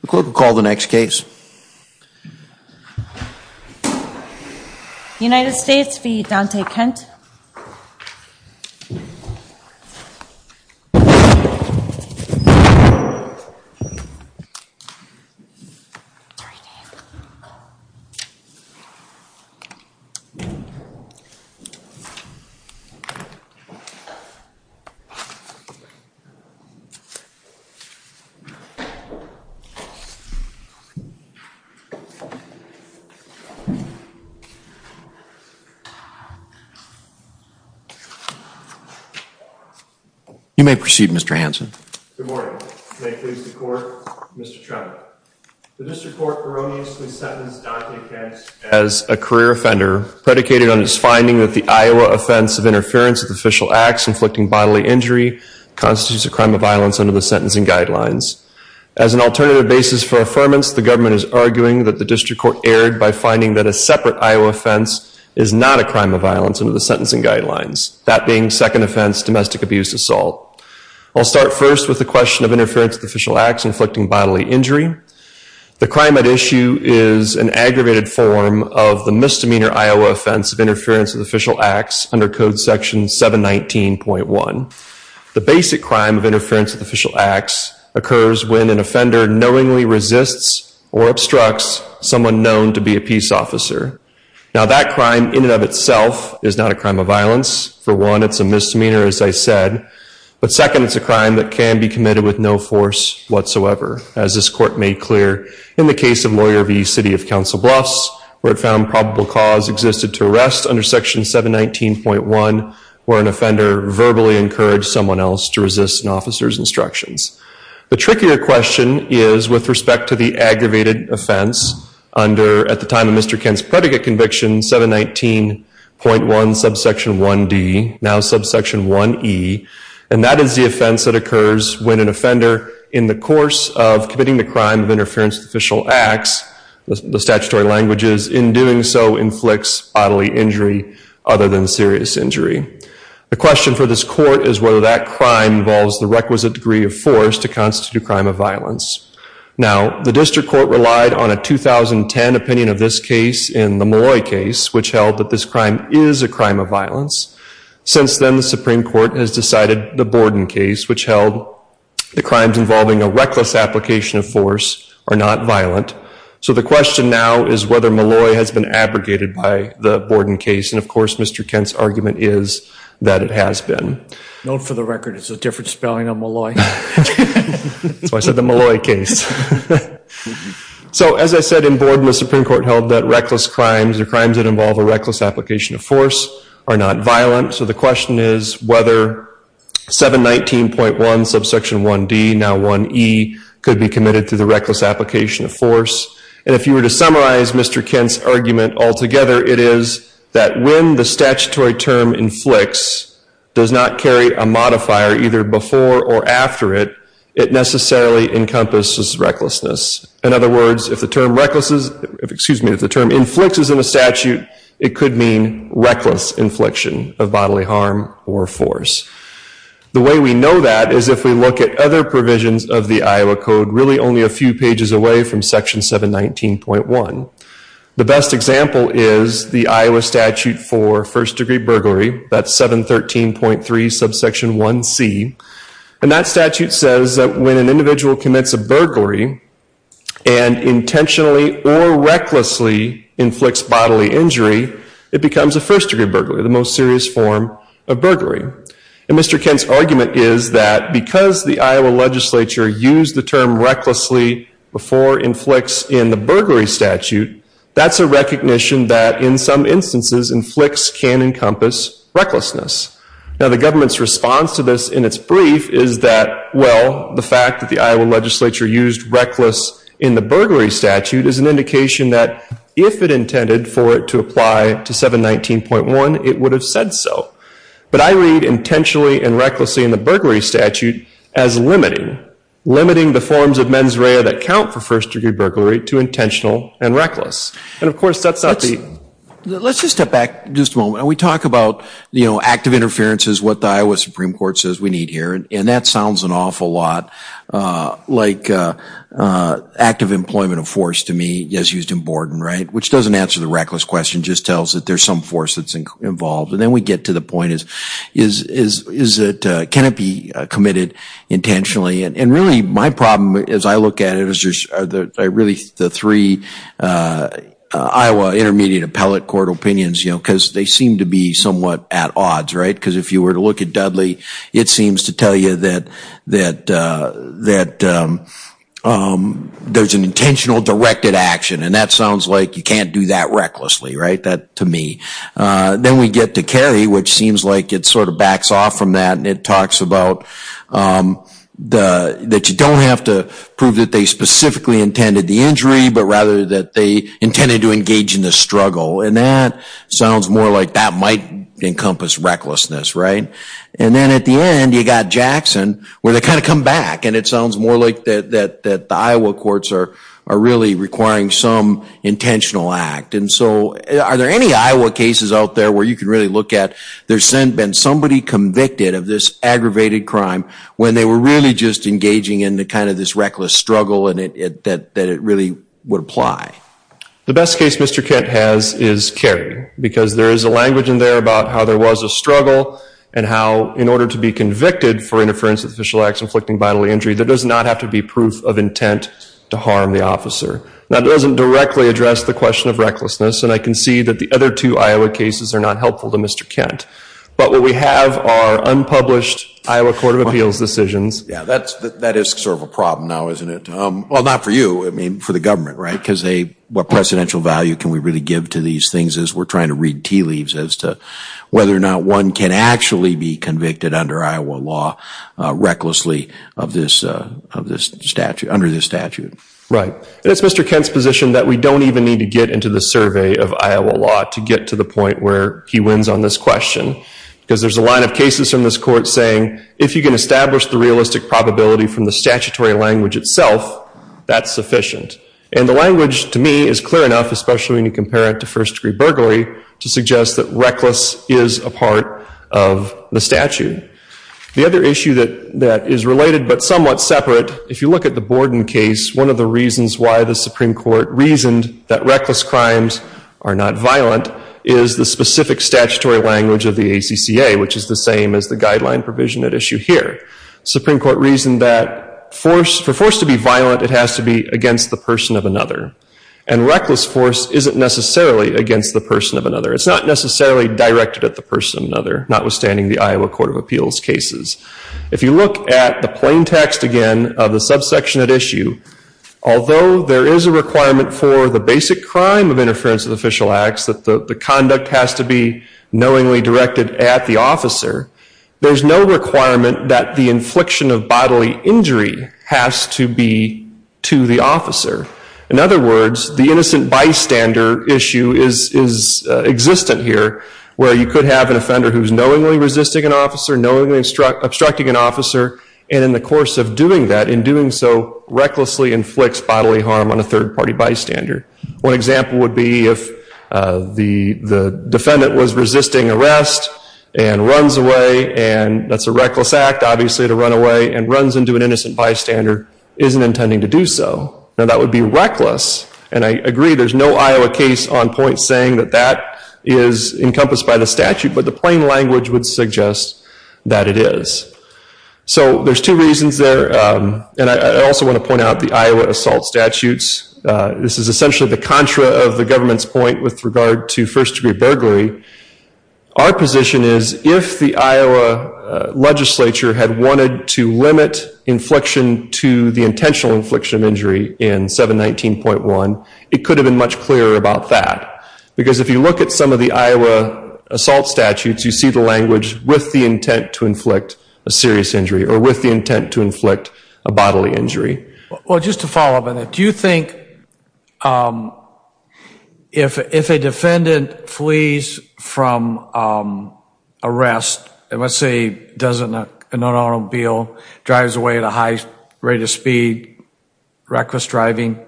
The court will call the next case. United States v. Donte Kent. You may proceed, Mr. Hanson. Good morning. May it please the court, Mr. Tremblay. The district court erroneously sentenced Donte Kent as a career offender, predicated on his finding that the Iowa offense of interference with official acts inflicting bodily injury constitutes a crime of violence under the sentencing guidelines. As an alternative basis for affirmance, the government is arguing that the district court erred by finding that a separate Iowa offense is not a crime of violence under the sentencing guidelines, that being second offense domestic abuse assault. I'll start first with the question of interference with official acts inflicting bodily injury. The crime at issue is an aggravated form of the misdemeanor Iowa offense of interference with official acts under Code Section 719.1. The basic crime of interference with official acts occurs when an offender knowingly resists or obstructs someone known to be a peace officer. Now that crime in and of itself is not a crime of violence. For one, it's a misdemeanor, as I said. But second, it's a crime that can be committed with no force whatsoever. As this court made clear in the case of Lawyer v. City of Council Bluffs, where it found probable cause existed to arrest under Section 719.1, where an offender verbally encouraged someone else to resist an officer's instructions. The trickier question is with respect to the aggravated offense under, at the time of Mr. Kent's predicate conviction, 719.1 subsection 1D, now subsection 1E, and that is the offense that occurs when an offender, in the course of committing the crime of interference with official acts, the statutory language is, in doing so inflicts bodily injury other than serious injury. The question for this court is whether that crime involves the requisite degree of force to constitute a crime of violence. Now, the district court relied on a 2010 opinion of this case in the Malloy case, which held that this crime is a crime of violence. Since then, the Supreme Court has decided the Borden case, which held the crimes involving a reckless application of force are not violent, so the question now is whether Malloy has been abrogated by the Borden case, and, of course, Mr. Kent's argument is that it has been. Note for the record, it's a different spelling of Malloy. That's why I said the Malloy case. So, as I said, in Borden, the Supreme Court held that reckless crimes, or crimes that involve a reckless application of force, are not violent, so the question is whether 719.1 subsection 1D, now 1E, could be committed through the reckless application of force. And if you were to summarize Mr. Kent's argument altogether, it is that when the statutory term inflicts does not carry a modifier either before or after it, it necessarily encompasses recklessness. In other words, if the term inflicts in a statute, it could mean reckless infliction of bodily harm or force. The way we know that is if we look at other provisions of the Iowa Code, really only a few pages away from section 719.1. The best example is the Iowa statute for first-degree burglary. That's 713.3 subsection 1C, and that statute says that when an individual commits a burglary and intentionally or recklessly inflicts bodily injury, it becomes a first-degree burglary, the most serious form of burglary. And Mr. Kent's argument is that because the Iowa legislature used the term recklessly before inflicts in the burglary statute, that's a recognition that in some instances, inflicts can encompass recklessness. Now the government's response to this in its brief is that, well, the fact that the Iowa legislature used reckless in the burglary statute is an indication that if it intended for it to apply to 719.1, it would have said so. But I read intentionally and recklessly in the burglary statute as limiting, limiting the forms of mens rea that count for first-degree burglary to intentional and reckless. And of course, that's not the... Let's just step back just a moment. We talk about active interference is what the Iowa Supreme Court says we need here, and that sounds an awful lot like active employment of force to me as used in Borden, right? Which doesn't answer the reckless question, just tells that there's some force that's involved. And then we get to the point, can it be committed intentionally? And really, my problem as I look at it, is really the three Iowa intermediate appellate court opinions, because they seem to be somewhat at odds, right? Because if you were to look at Dudley, it seems to tell you that there's an intentional directed action, and that sounds like you can't do that recklessly, right? That, to me. Then we get to Kerry, which seems like it sort of backs off from that, and it talks about that you don't have to prove that they specifically intended the injury, but rather that they intended to engage in the struggle. And that sounds more like that might encompass recklessness, right? And then at the end, you've got Jackson, where they kind of come back, and it sounds more like the Iowa courts are really requiring some intentional act. And so are there any Iowa cases out there where you can really look at there's been somebody convicted of this aggravated crime when they were really just engaging in kind of this reckless struggle that it really would apply? The best case Mr. Kent has is Kerry, because there is a language in there about how there was a struggle and how in order to be convicted for interference with official acts inflicting bodily injury, there does not have to be proof of intent to harm the officer. Now, it doesn't directly address the question of recklessness, and I can see that the other two Iowa cases are not helpful to Mr. Kent. But what we have are unpublished Iowa Court of Appeals decisions. Yeah, that is sort of a problem now, isn't it? Well, not for you, I mean, for the government, right? Because what precedential value can we really give to these things as we're trying to read tea leaves as to whether or not one can actually be convicted under Iowa law recklessly under this statute. Right. It's Mr. Kent's position that we don't even need to get into the survey of Iowa law to get to the point where he wins on this question, because there's a line of cases from this court saying if you can establish the realistic probability from the statutory language itself, that's sufficient. And the language, to me, is clear enough, especially when you compare it to first-degree burglary, to suggest that reckless is a part of the statute. The other issue that is related but somewhat separate, if you look at the Borden case, one of the reasons why the Supreme Court reasoned that reckless crimes are not violent is the specific statutory language of the ACCA, which is the same as the guideline provision at issue here. The Supreme Court reasoned that for force to be violent, it has to be against the person of another. And reckless force isn't necessarily against the person of another. It's not necessarily directed at the person of another, notwithstanding the Iowa Court of Appeals cases. If you look at the plain text again of the subsection at issue, although there is a requirement for the basic crime of interference with official acts, that the conduct has to be knowingly directed at the officer, there's no requirement that the infliction of bodily injury has to be to the officer. In other words, the innocent bystander issue is existent here, where you could have an offender who's knowingly resisting an officer, knowingly obstructing an officer, and in the course of doing that, in doing so, recklessly inflicts bodily harm on a third-party bystander. One example would be if the defendant was resisting arrest and runs away, and that's a reckless act, obviously, to run away, and runs into an innocent bystander, isn't intending to do so. Now, that would be reckless, and I agree there's no Iowa case on point saying that that is encompassed by the statute, but the plain language would suggest that it is. So there's two reasons there, and I also want to point out the Iowa assault statutes. This is essentially the contra of the government's point with regard to first-degree burglary. Our position is if the Iowa legislature had wanted to limit infliction to the intentional infliction of injury in 719.1, it could have been much clearer about that, because if you look at some of the Iowa assault statutes, you see the language with the intent to inflict a serious injury or with the intent to inflict a bodily injury. Well, just to follow up on that, do you think if a defendant flees from arrest, and let's say does an automobile, drives away at a high rate of speed, reckless driving,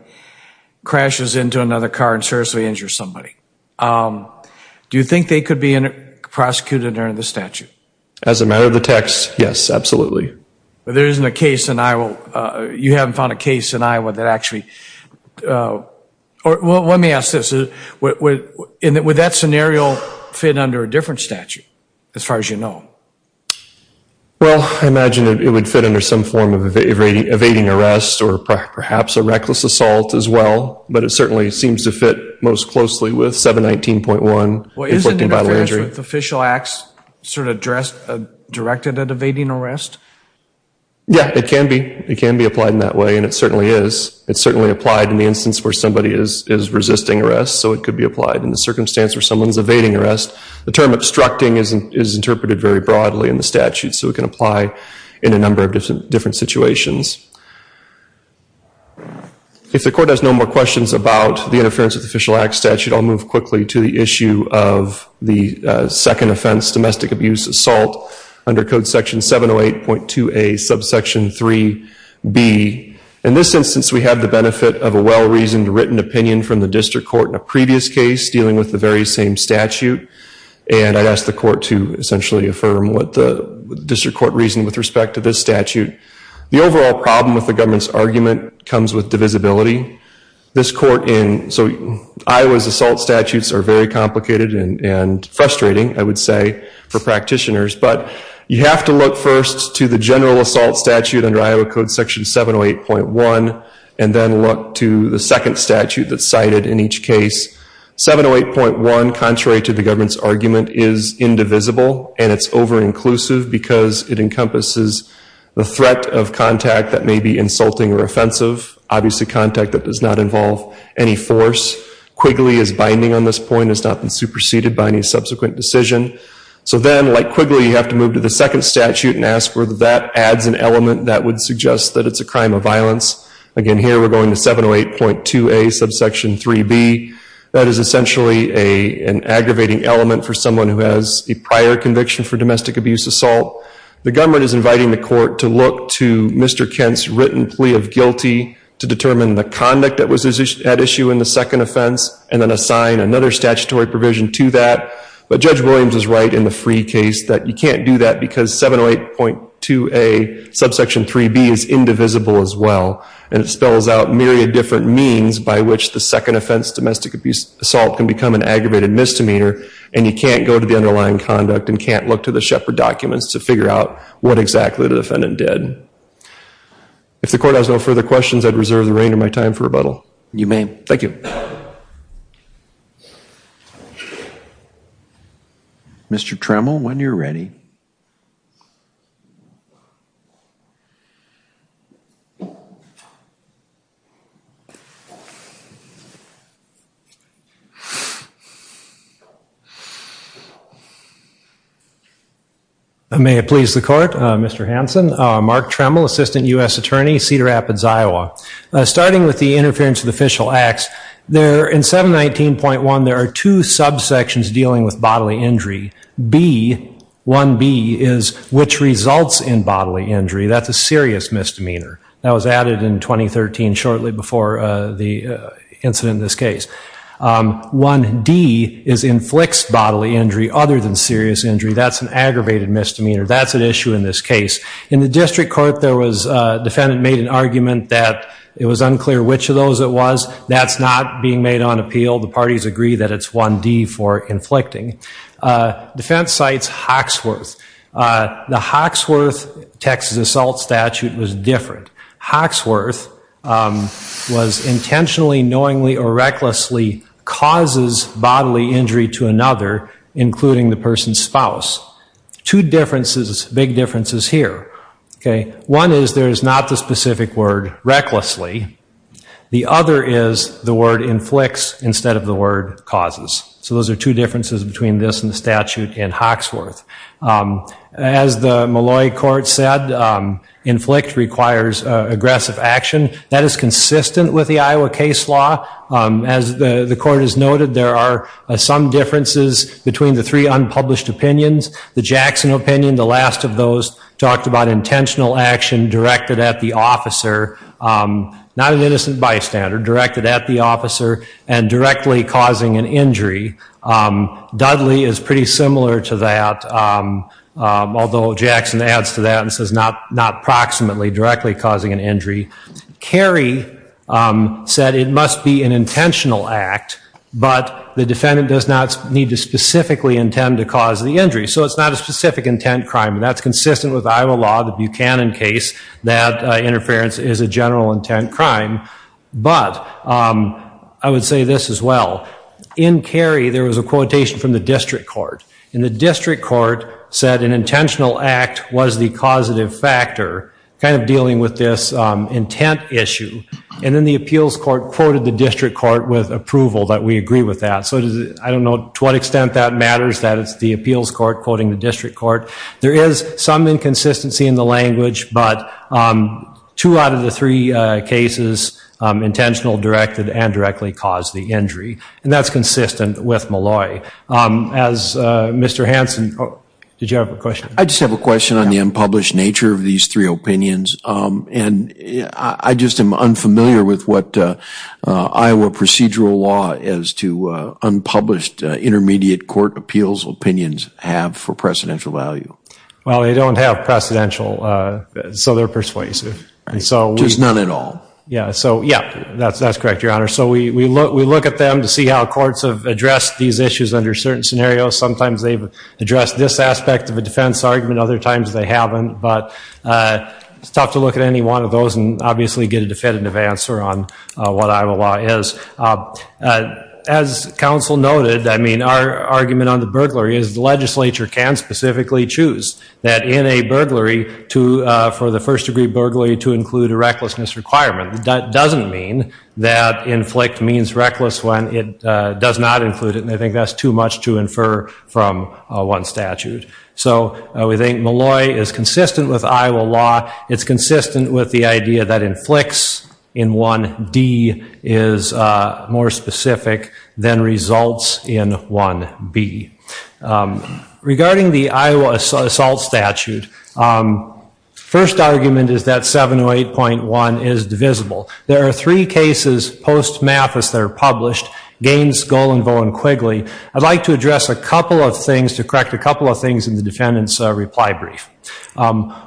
crashes into another car and seriously injures somebody, do you think they could be prosecuted under the statute? As a matter of the text, yes, absolutely. But there isn't a case in Iowa, you haven't found a case in Iowa that actually, well, let me ask this, would that scenario fit under a different statute, as far as you know? Well, I imagine it would fit under some form of evading arrest or perhaps a reckless assault as well, but it certainly seems to fit most closely with 719.1. Well, is it an interference with official acts sort of directed at evading arrest? Yeah, it can be. It can be applied in that way, and it certainly is. It's certainly applied in the instance where somebody is resisting arrest, so it could be applied in the circumstance where someone's evading arrest. The term obstructing is interpreted very broadly in the statute, so it can apply in a number of different situations. If the court has no more questions about the interference with official acts statute, I'll move quickly to the issue of the second offense, domestic abuse assault, under code section 708.2a, subsection 3b. In this instance, we have the benefit of a well-reasoned written opinion from the district court in a previous case dealing with the very same statute, and I'd ask the court to essentially affirm what the district court reasoned with respect to this statute. The overall problem with the government's argument comes with divisibility. This court in, so Iowa's assault statutes are very complicated and frustrating, I would say, for practitioners, but you have to look first to the general assault statute under Iowa code section 708.1, and then look to the second statute that's cited in each case. 708.1, contrary to the government's argument, is indivisible, and it's over-inclusive because it encompasses the threat of contact that may be insulting or offensive, obviously contact that does not involve any force. Quigley is binding on this point, has not been superseded by any subsequent decision. So then, like Quigley, you have to move to the second statute and ask whether that adds an element that would suggest that it's a crime of violence. Again, here we're going to 708.2A, subsection 3B. That is essentially an aggravating element for someone who has a prior conviction for domestic abuse assault. The government is inviting the court to look to Mr. Kent's written plea of guilty to determine the conduct that was at issue in the second offense, and then assign another statutory provision to that. But Judge Williams is right in the free case that you can't do that because 708.2A, subsection 3B, is indivisible as well, and it spells out myriad different means by which the second offense, domestic abuse assault, can become an aggravated misdemeanor, and you can't go to the underlying conduct and can't look to the Shepard documents to figure out what exactly the defendant did. If the court has no further questions, I'd reserve the reign of my time for rebuttal. You may. Thank you. Mr. Tremel, when you're ready. May it please the court. Mr. Hanson, Mark Tremel, Assistant U.S. Attorney, Cedar Rapids, Iowa. Starting with the interference of the official acts, in 719.1, there are two subsections dealing with bodily injury. B, 1B, is which results in bodily injury. That's a serious misdemeanor. That was added in 2013, shortly before the incident in this case. 1D is inflicts bodily injury other than serious injury. That's an aggravated misdemeanor. That's an issue in this case. In the district court, there was a defendant made an argument that it was unclear which of those it was. That's not being made on appeal. The parties agree that it's 1D for inflicting. Defense cites Hawksworth. The Hawksworth Texas assault statute was different. Hawksworth was intentionally, knowingly, or recklessly causes bodily injury to another, including the person's spouse. Two differences, big differences here. One is there is not the specific word recklessly. The other is the word inflicts instead of the word causes. Those are two differences between this and the statute in Hawksworth. As the Malloy court said, inflict requires aggressive action. That is consistent with the Iowa case law. As the court has noted, there are some differences between the three unpublished opinions. The Jackson opinion, the last of those, talked about intentional action directed at the officer not an innocent bystander, directed at the officer and directly causing an injury. Dudley is pretty similar to that, although Jackson adds to that and says not proximately, directly causing an injury. Kerry said it must be an intentional act, but the defendant does not need to specifically intend to cause the injury. So it's not a specific intent crime. That's consistent with Iowa law, the Buchanan case, that interference is a general intent crime. But I would say this as well. In Kerry, there was a quotation from the district court. The district court said an intentional act was the causative factor, kind of dealing with this intent issue. Then the appeals court quoted the district court with approval that we agree with that. I don't know to what extent that matters, that it's the appeals court quoting the district court. There is some inconsistency in the language, but two out of the three cases, intentional, directed, and directly caused the injury. That's consistent with Malloy. Mr. Hanson, did you have a question? I just have a question on the unpublished nature of these three opinions. I just am unfamiliar with what Iowa procedural law as to unpublished intermediate court appeals opinions have for precedential value. Well, they don't have precedential, so they're persuasive. There's none at all. Yeah, that's correct, Your Honor. We look at them to see how courts have addressed these issues under certain scenarios. Sometimes they've addressed this aspect of a defense argument, other times they haven't. It's tough to look at any one of those and obviously get a definitive answer on what Iowa law is. As counsel noted, our argument on the burglary is the legislature can specifically choose that in a burglary for the first degree burglary to include a recklessness requirement. That doesn't mean that inflict means reckless when it does not include it, and I think that's too much to infer from one statute. So we think Malloy is consistent with Iowa law. It's consistent with the idea that inflicts in 1D is more specific than results in 1B. Regarding the Iowa assault statute, first argument is that 708.1 is divisible. There are three cases post-Mathis that are published, Gaines, Golenvoe, and Quigley. I'd like to address a couple of things to correct a couple of things in the defendant's reply brief.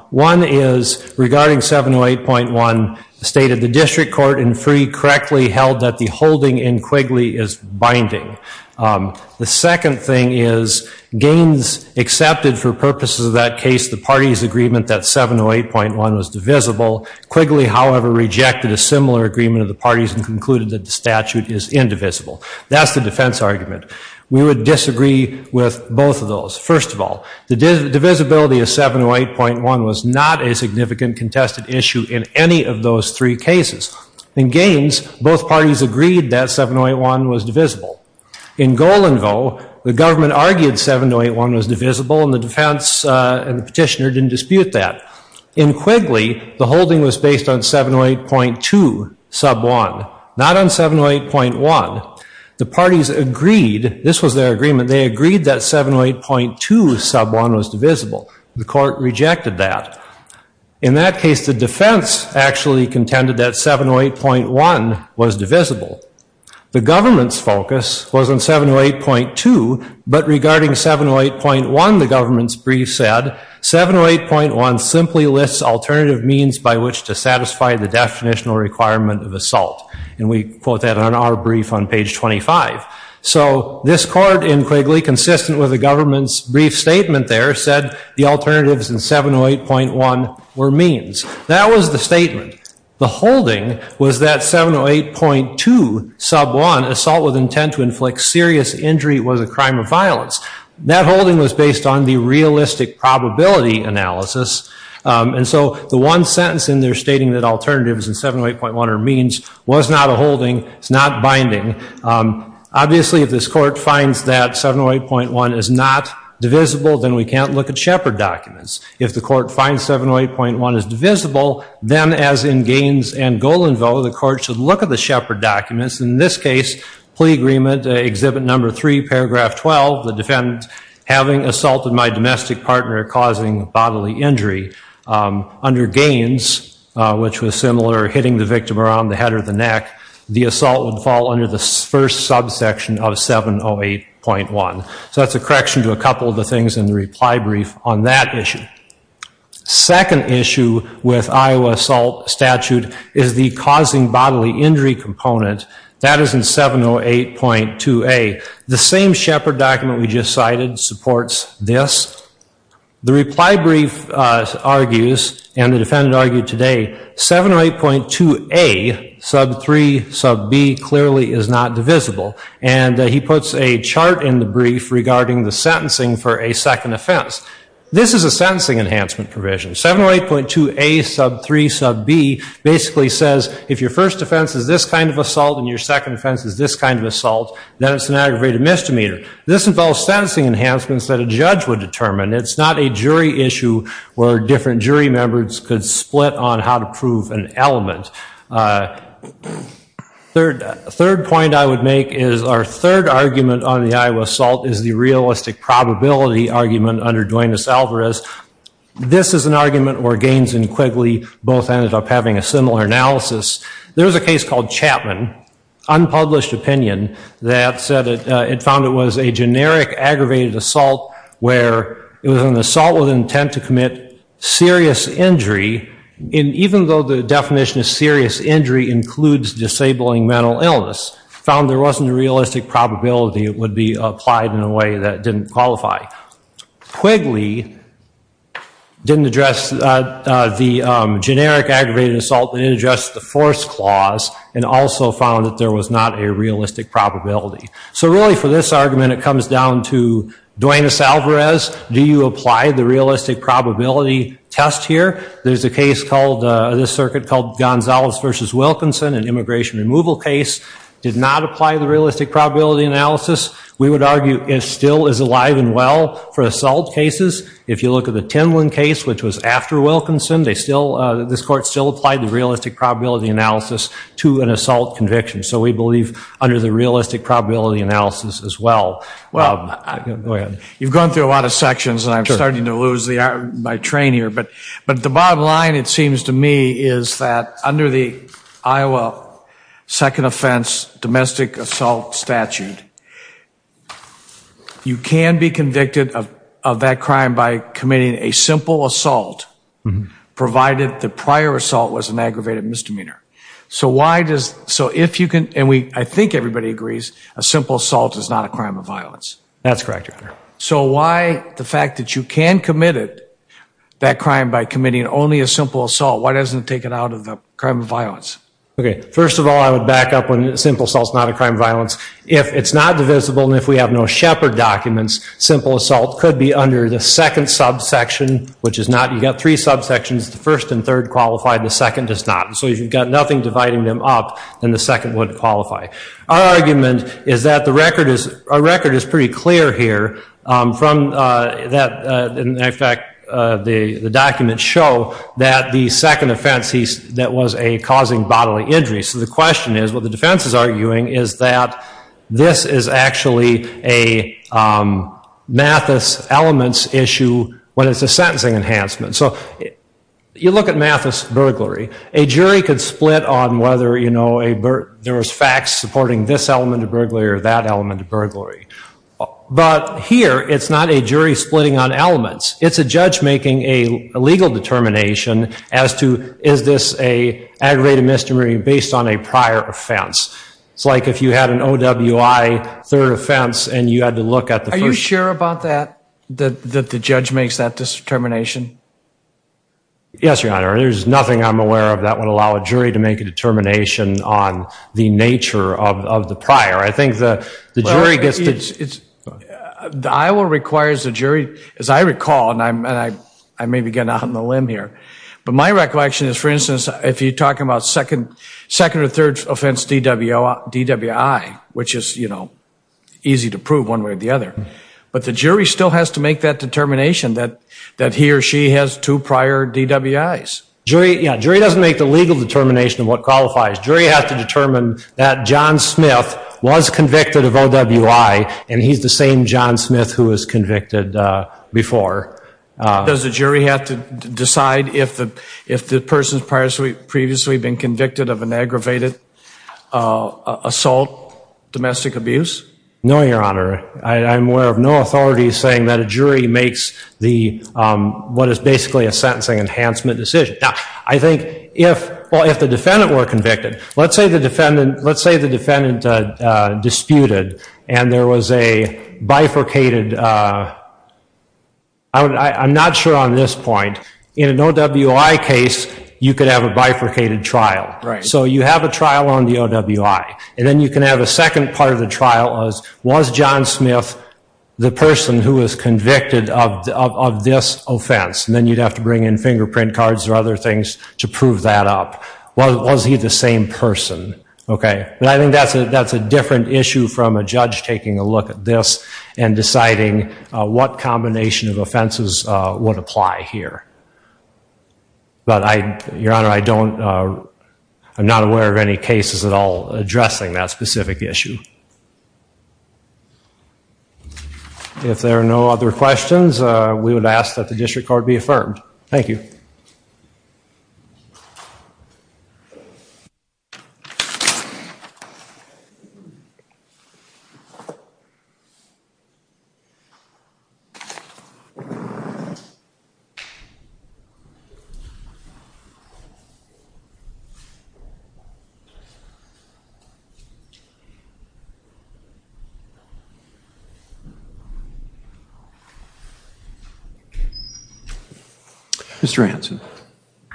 One is regarding 708.1, the State of the District Court in Free correctly held that the holding in Quigley is binding. The second thing is Gaines accepted for purposes of that case the party's agreement that 708.1 was divisible. Quigley, however, rejected a similar agreement of the parties and concluded that the statute is indivisible. That's the defense argument. We would disagree with both of those. First of all, the divisibility of 708.1 was not a significant contested issue in any of those three cases. In Gaines, both parties agreed that 708.1 was divisible. In Golenvoe, the government argued 708.1 was divisible and the defense and the petitioner didn't dispute that. In Quigley, the holding was based on 708.2 sub 1, not on 708.1. The parties agreed, this was their agreement, they agreed that 708.2 sub 1 was divisible. The court rejected that. In that case, the defense actually contended that 708.1 was divisible. The government's focus was on 708.2, but regarding 708.1, the government's brief said, 708.1 simply lists alternative means by which to satisfy the definitional requirement of assault. And we quote that on our brief on page 25. So this court in Quigley, consistent with the government's brief statement there, said the alternatives in 708.1 were means. That was the statement. The holding was that 708.2 sub 1, assault with intent to inflict serious injury was a crime of violence. That holding was based on the realistic probability analysis. And so the one sentence in there stating that alternatives in 708.1 are means was not a holding, it's not binding. Obviously, if this court finds that 708.1 is not divisible, then we can't look at Shepard documents. If the court finds 708.1 is divisible, then as in Gaines and Golenville, the court should look at the Shepard documents. In this case, plea agreement, exhibit number three, paragraph 12, the defendant having assaulted my domestic partner causing bodily injury. Under Gaines, which was similar, hitting the victim around the head or the neck, the assault would fall under the first subsection of 708.1. So that's a correction to a couple of the things in the reply brief on that issue. Second issue with Iowa assault statute is the causing bodily injury component. That is in 708.2A. The same Shepard document we just cited supports this. The reply brief argues, and the defendant argued today, 708.2A, sub 3, sub B, clearly is not divisible. And he puts a chart in the brief regarding the sentencing for a second offense. This is a sentencing enhancement provision. 708.2A, sub 3, sub B, basically says if your first offense is this kind of assault and your second offense is this kind of assault, then it's an aggravated misdemeanor. This involves sentencing enhancements that a judge would determine. It's not a jury issue where different jury members could split on how to prove an element. Third point I would make is our third argument on the Iowa assault is the realistic probability argument under Dwayne Esalvarez. This is an argument where Gaines and Quigley both ended up having a similar analysis. There was a case called Chapman, unpublished opinion, that said it found it was a generic aggravated assault where it was an assault with intent to commit serious injury. And even though the definition of serious injury includes disabling mental illness, found there wasn't a realistic probability it would be applied in a way that didn't qualify. Quigley didn't address the generic aggravated assault, didn't address the force clause, and also found that there was not a realistic probability. So really for this argument it comes down to Dwayne Esalvarez, do you apply the realistic probability test here? There's a case called, this circuit called Gonzales versus Wilkinson, an immigration removal case, did not apply the realistic probability analysis. We would argue it still is alive and well for assault cases. If you look at the Tinlin case, which was after Wilkinson, this court still applied the realistic probability analysis to an assault conviction. So we believe under the realistic probability analysis as well. Well, you've gone through a lot of sections and I'm starting to lose my train here, but the bottom line it seems to me is that under the Iowa second offense domestic assault statute, you can be convicted of that crime by committing a simple assault, provided the prior assault was an aggravated misdemeanor. So why does, so if you can, and I think everybody agrees, a simple assault is not a crime of violence. That's correct, Your Honor. So why the fact that you can commit it, that crime by committing only a simple assault, why doesn't it take it out of the crime of violence? Okay, first of all I would back up when simple assault is not a crime of violence. If it's not divisible and if we have no Shepard documents, simple assault could be under the second subsection, which is not, you've got three subsections, the first and third qualify, the second does not. So if you've got nothing dividing them up, then the second would qualify. Our argument is that the record is, our record is pretty clear here from that, in fact the documents show that the second offense that was a causing bodily injury. So the question is, what the defense is arguing is that this is actually a Mathis elements issue when it's a sentencing enhancement. So you look at Mathis burglary, a jury could split on whether, you know, there was facts supporting this element of burglary or that element of burglary. But here it's not a jury splitting on elements, it's a judge making a legal determination as to is this an aggravated misdemeanor based on a prior offense. It's like if you had an OWI third offense and you had to look at the first. Are you sure about that, that the judge makes that determination? Yes, Your Honor. There's nothing I'm aware of that would allow a jury to make a determination on the nature of the prior. I think the jury gets to... The Iowa requires the jury, as I recall, and I may be getting out on a limb here, but my recollection is, for instance, if you're talking about second or third offense DWI, which is, you know, easy to prove one way or the other, but the jury still has to make that determination that he or she has two prior DWIs. Yeah, jury doesn't make the legal determination of what qualifies. Jury has to determine that John Smith was convicted of OWI and he's the same John Smith who was convicted before. Does the jury have to decide if the person's previously been convicted of an aggravated assault, domestic abuse? No, Your Honor. I'm aware of no authority saying that a jury makes what is basically a sentencing enhancement decision. Now, I think if the defendant were convicted, let's say the defendant disputed and there was a bifurcated... I'm not sure on this point. In an OWI case, you could have a bifurcated trial. So you have a trial on the OWI and then you can have a second part of the trial as, was John Smith the person who was convicted of this offense? And then you'd have to bring in fingerprint cards or other things to prove that up. Was he the same person? Okay. But I think that's a different issue from a judge taking a look at this and deciding what combination of offenses would apply here. But, Your Honor, I don't... have any cases at all addressing that specific issue. If there are no other questions, we would ask that the district court be affirmed. Thank you. Mr. Hanson.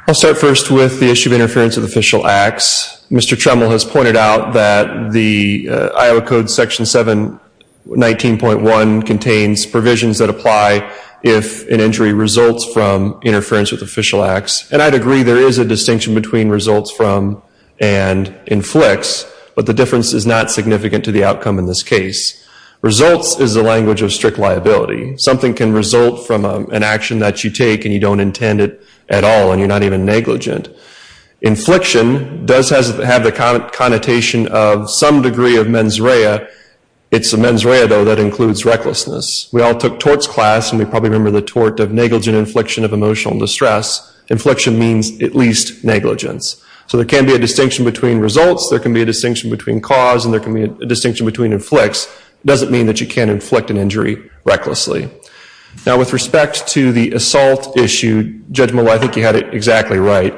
I'll start first with the issue of interference with official acts. Mr. Tremble has pointed out that the Iowa Code Section 719.1 contains provisions that apply if an injury results from interference with official acts. And I'd agree there is a distinction between results from and inflicts, but the difference is not significant to the outcome in this case. Results is the language of strict liability. Something can result from an action that you take and you don't intend it at all and you're not even negligent. Infliction does have the connotation of some degree of mens rea. It's the mens rea, though, that includes recklessness. We all took torts class, and we probably remember the tort of negligent infliction of emotional distress. Infliction means at least negligence. So there can be a distinction between results, there can be a distinction between cause, and there can be a distinction between inflicts. It doesn't mean that you can't inflict an injury recklessly. Now, with respect to the assault issue, Judge Malauulu, I think you had it exactly right.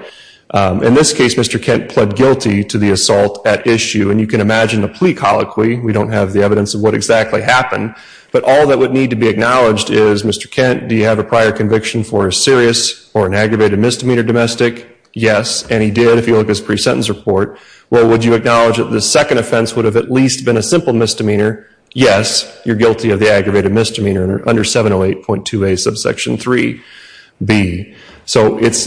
In this case, Mr. Kent pled guilty to the assault at issue, and you can imagine the plea colloquy. We don't have the evidence of what exactly happened, but all that would need to be acknowledged is, Mr. Kent, do you have a prior conviction for a serious or an aggravated misdemeanor domestic? Yes. And he did, if you look at his pre-sentence report. Well, would you acknowledge that the second offense would have at least been a simple misdemeanor? Yes. You're guilty of the aggravated misdemeanor under 708.2a subsection 3b. So that's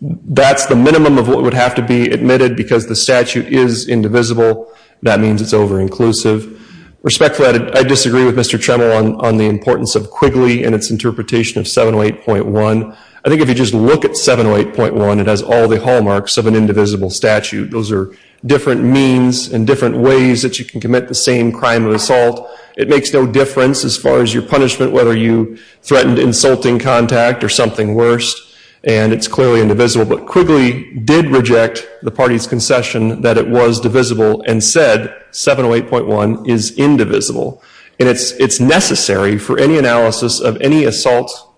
the minimum of what would have to be admitted because the statute is indivisible. That means it's over-inclusive. Respectfully, I disagree with Mr. Tremwell on the importance of Quigley and its interpretation of 708.1. I think if you just look at 708.1, it has all the hallmarks of an indivisible statute. Those are different means and different ways that you can commit the same crime of assault. It makes no difference as far as your punishment, whether you threatened insulting contact or something worse, and it's clearly indivisible. But Quigley did reject the party's concession that it was divisible and said 708.1 is indivisible. And it's necessary for any analysis of any assault,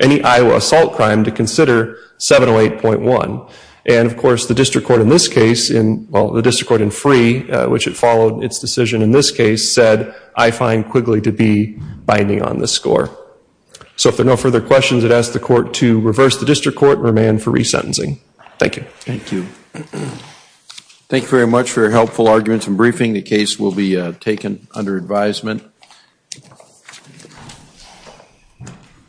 any Iowa assault crime, to consider 708.1. And, of course, the district court in this case, well, the district court in Free, which had followed its decision in this case, said, I find Quigley to be binding on this score. So if there are no further questions, I'd ask the court to reverse the district court and remand for resentencing. Thank you. Thank you. Thank you very much for your helpful arguments and briefing. The case will be taken under advisement.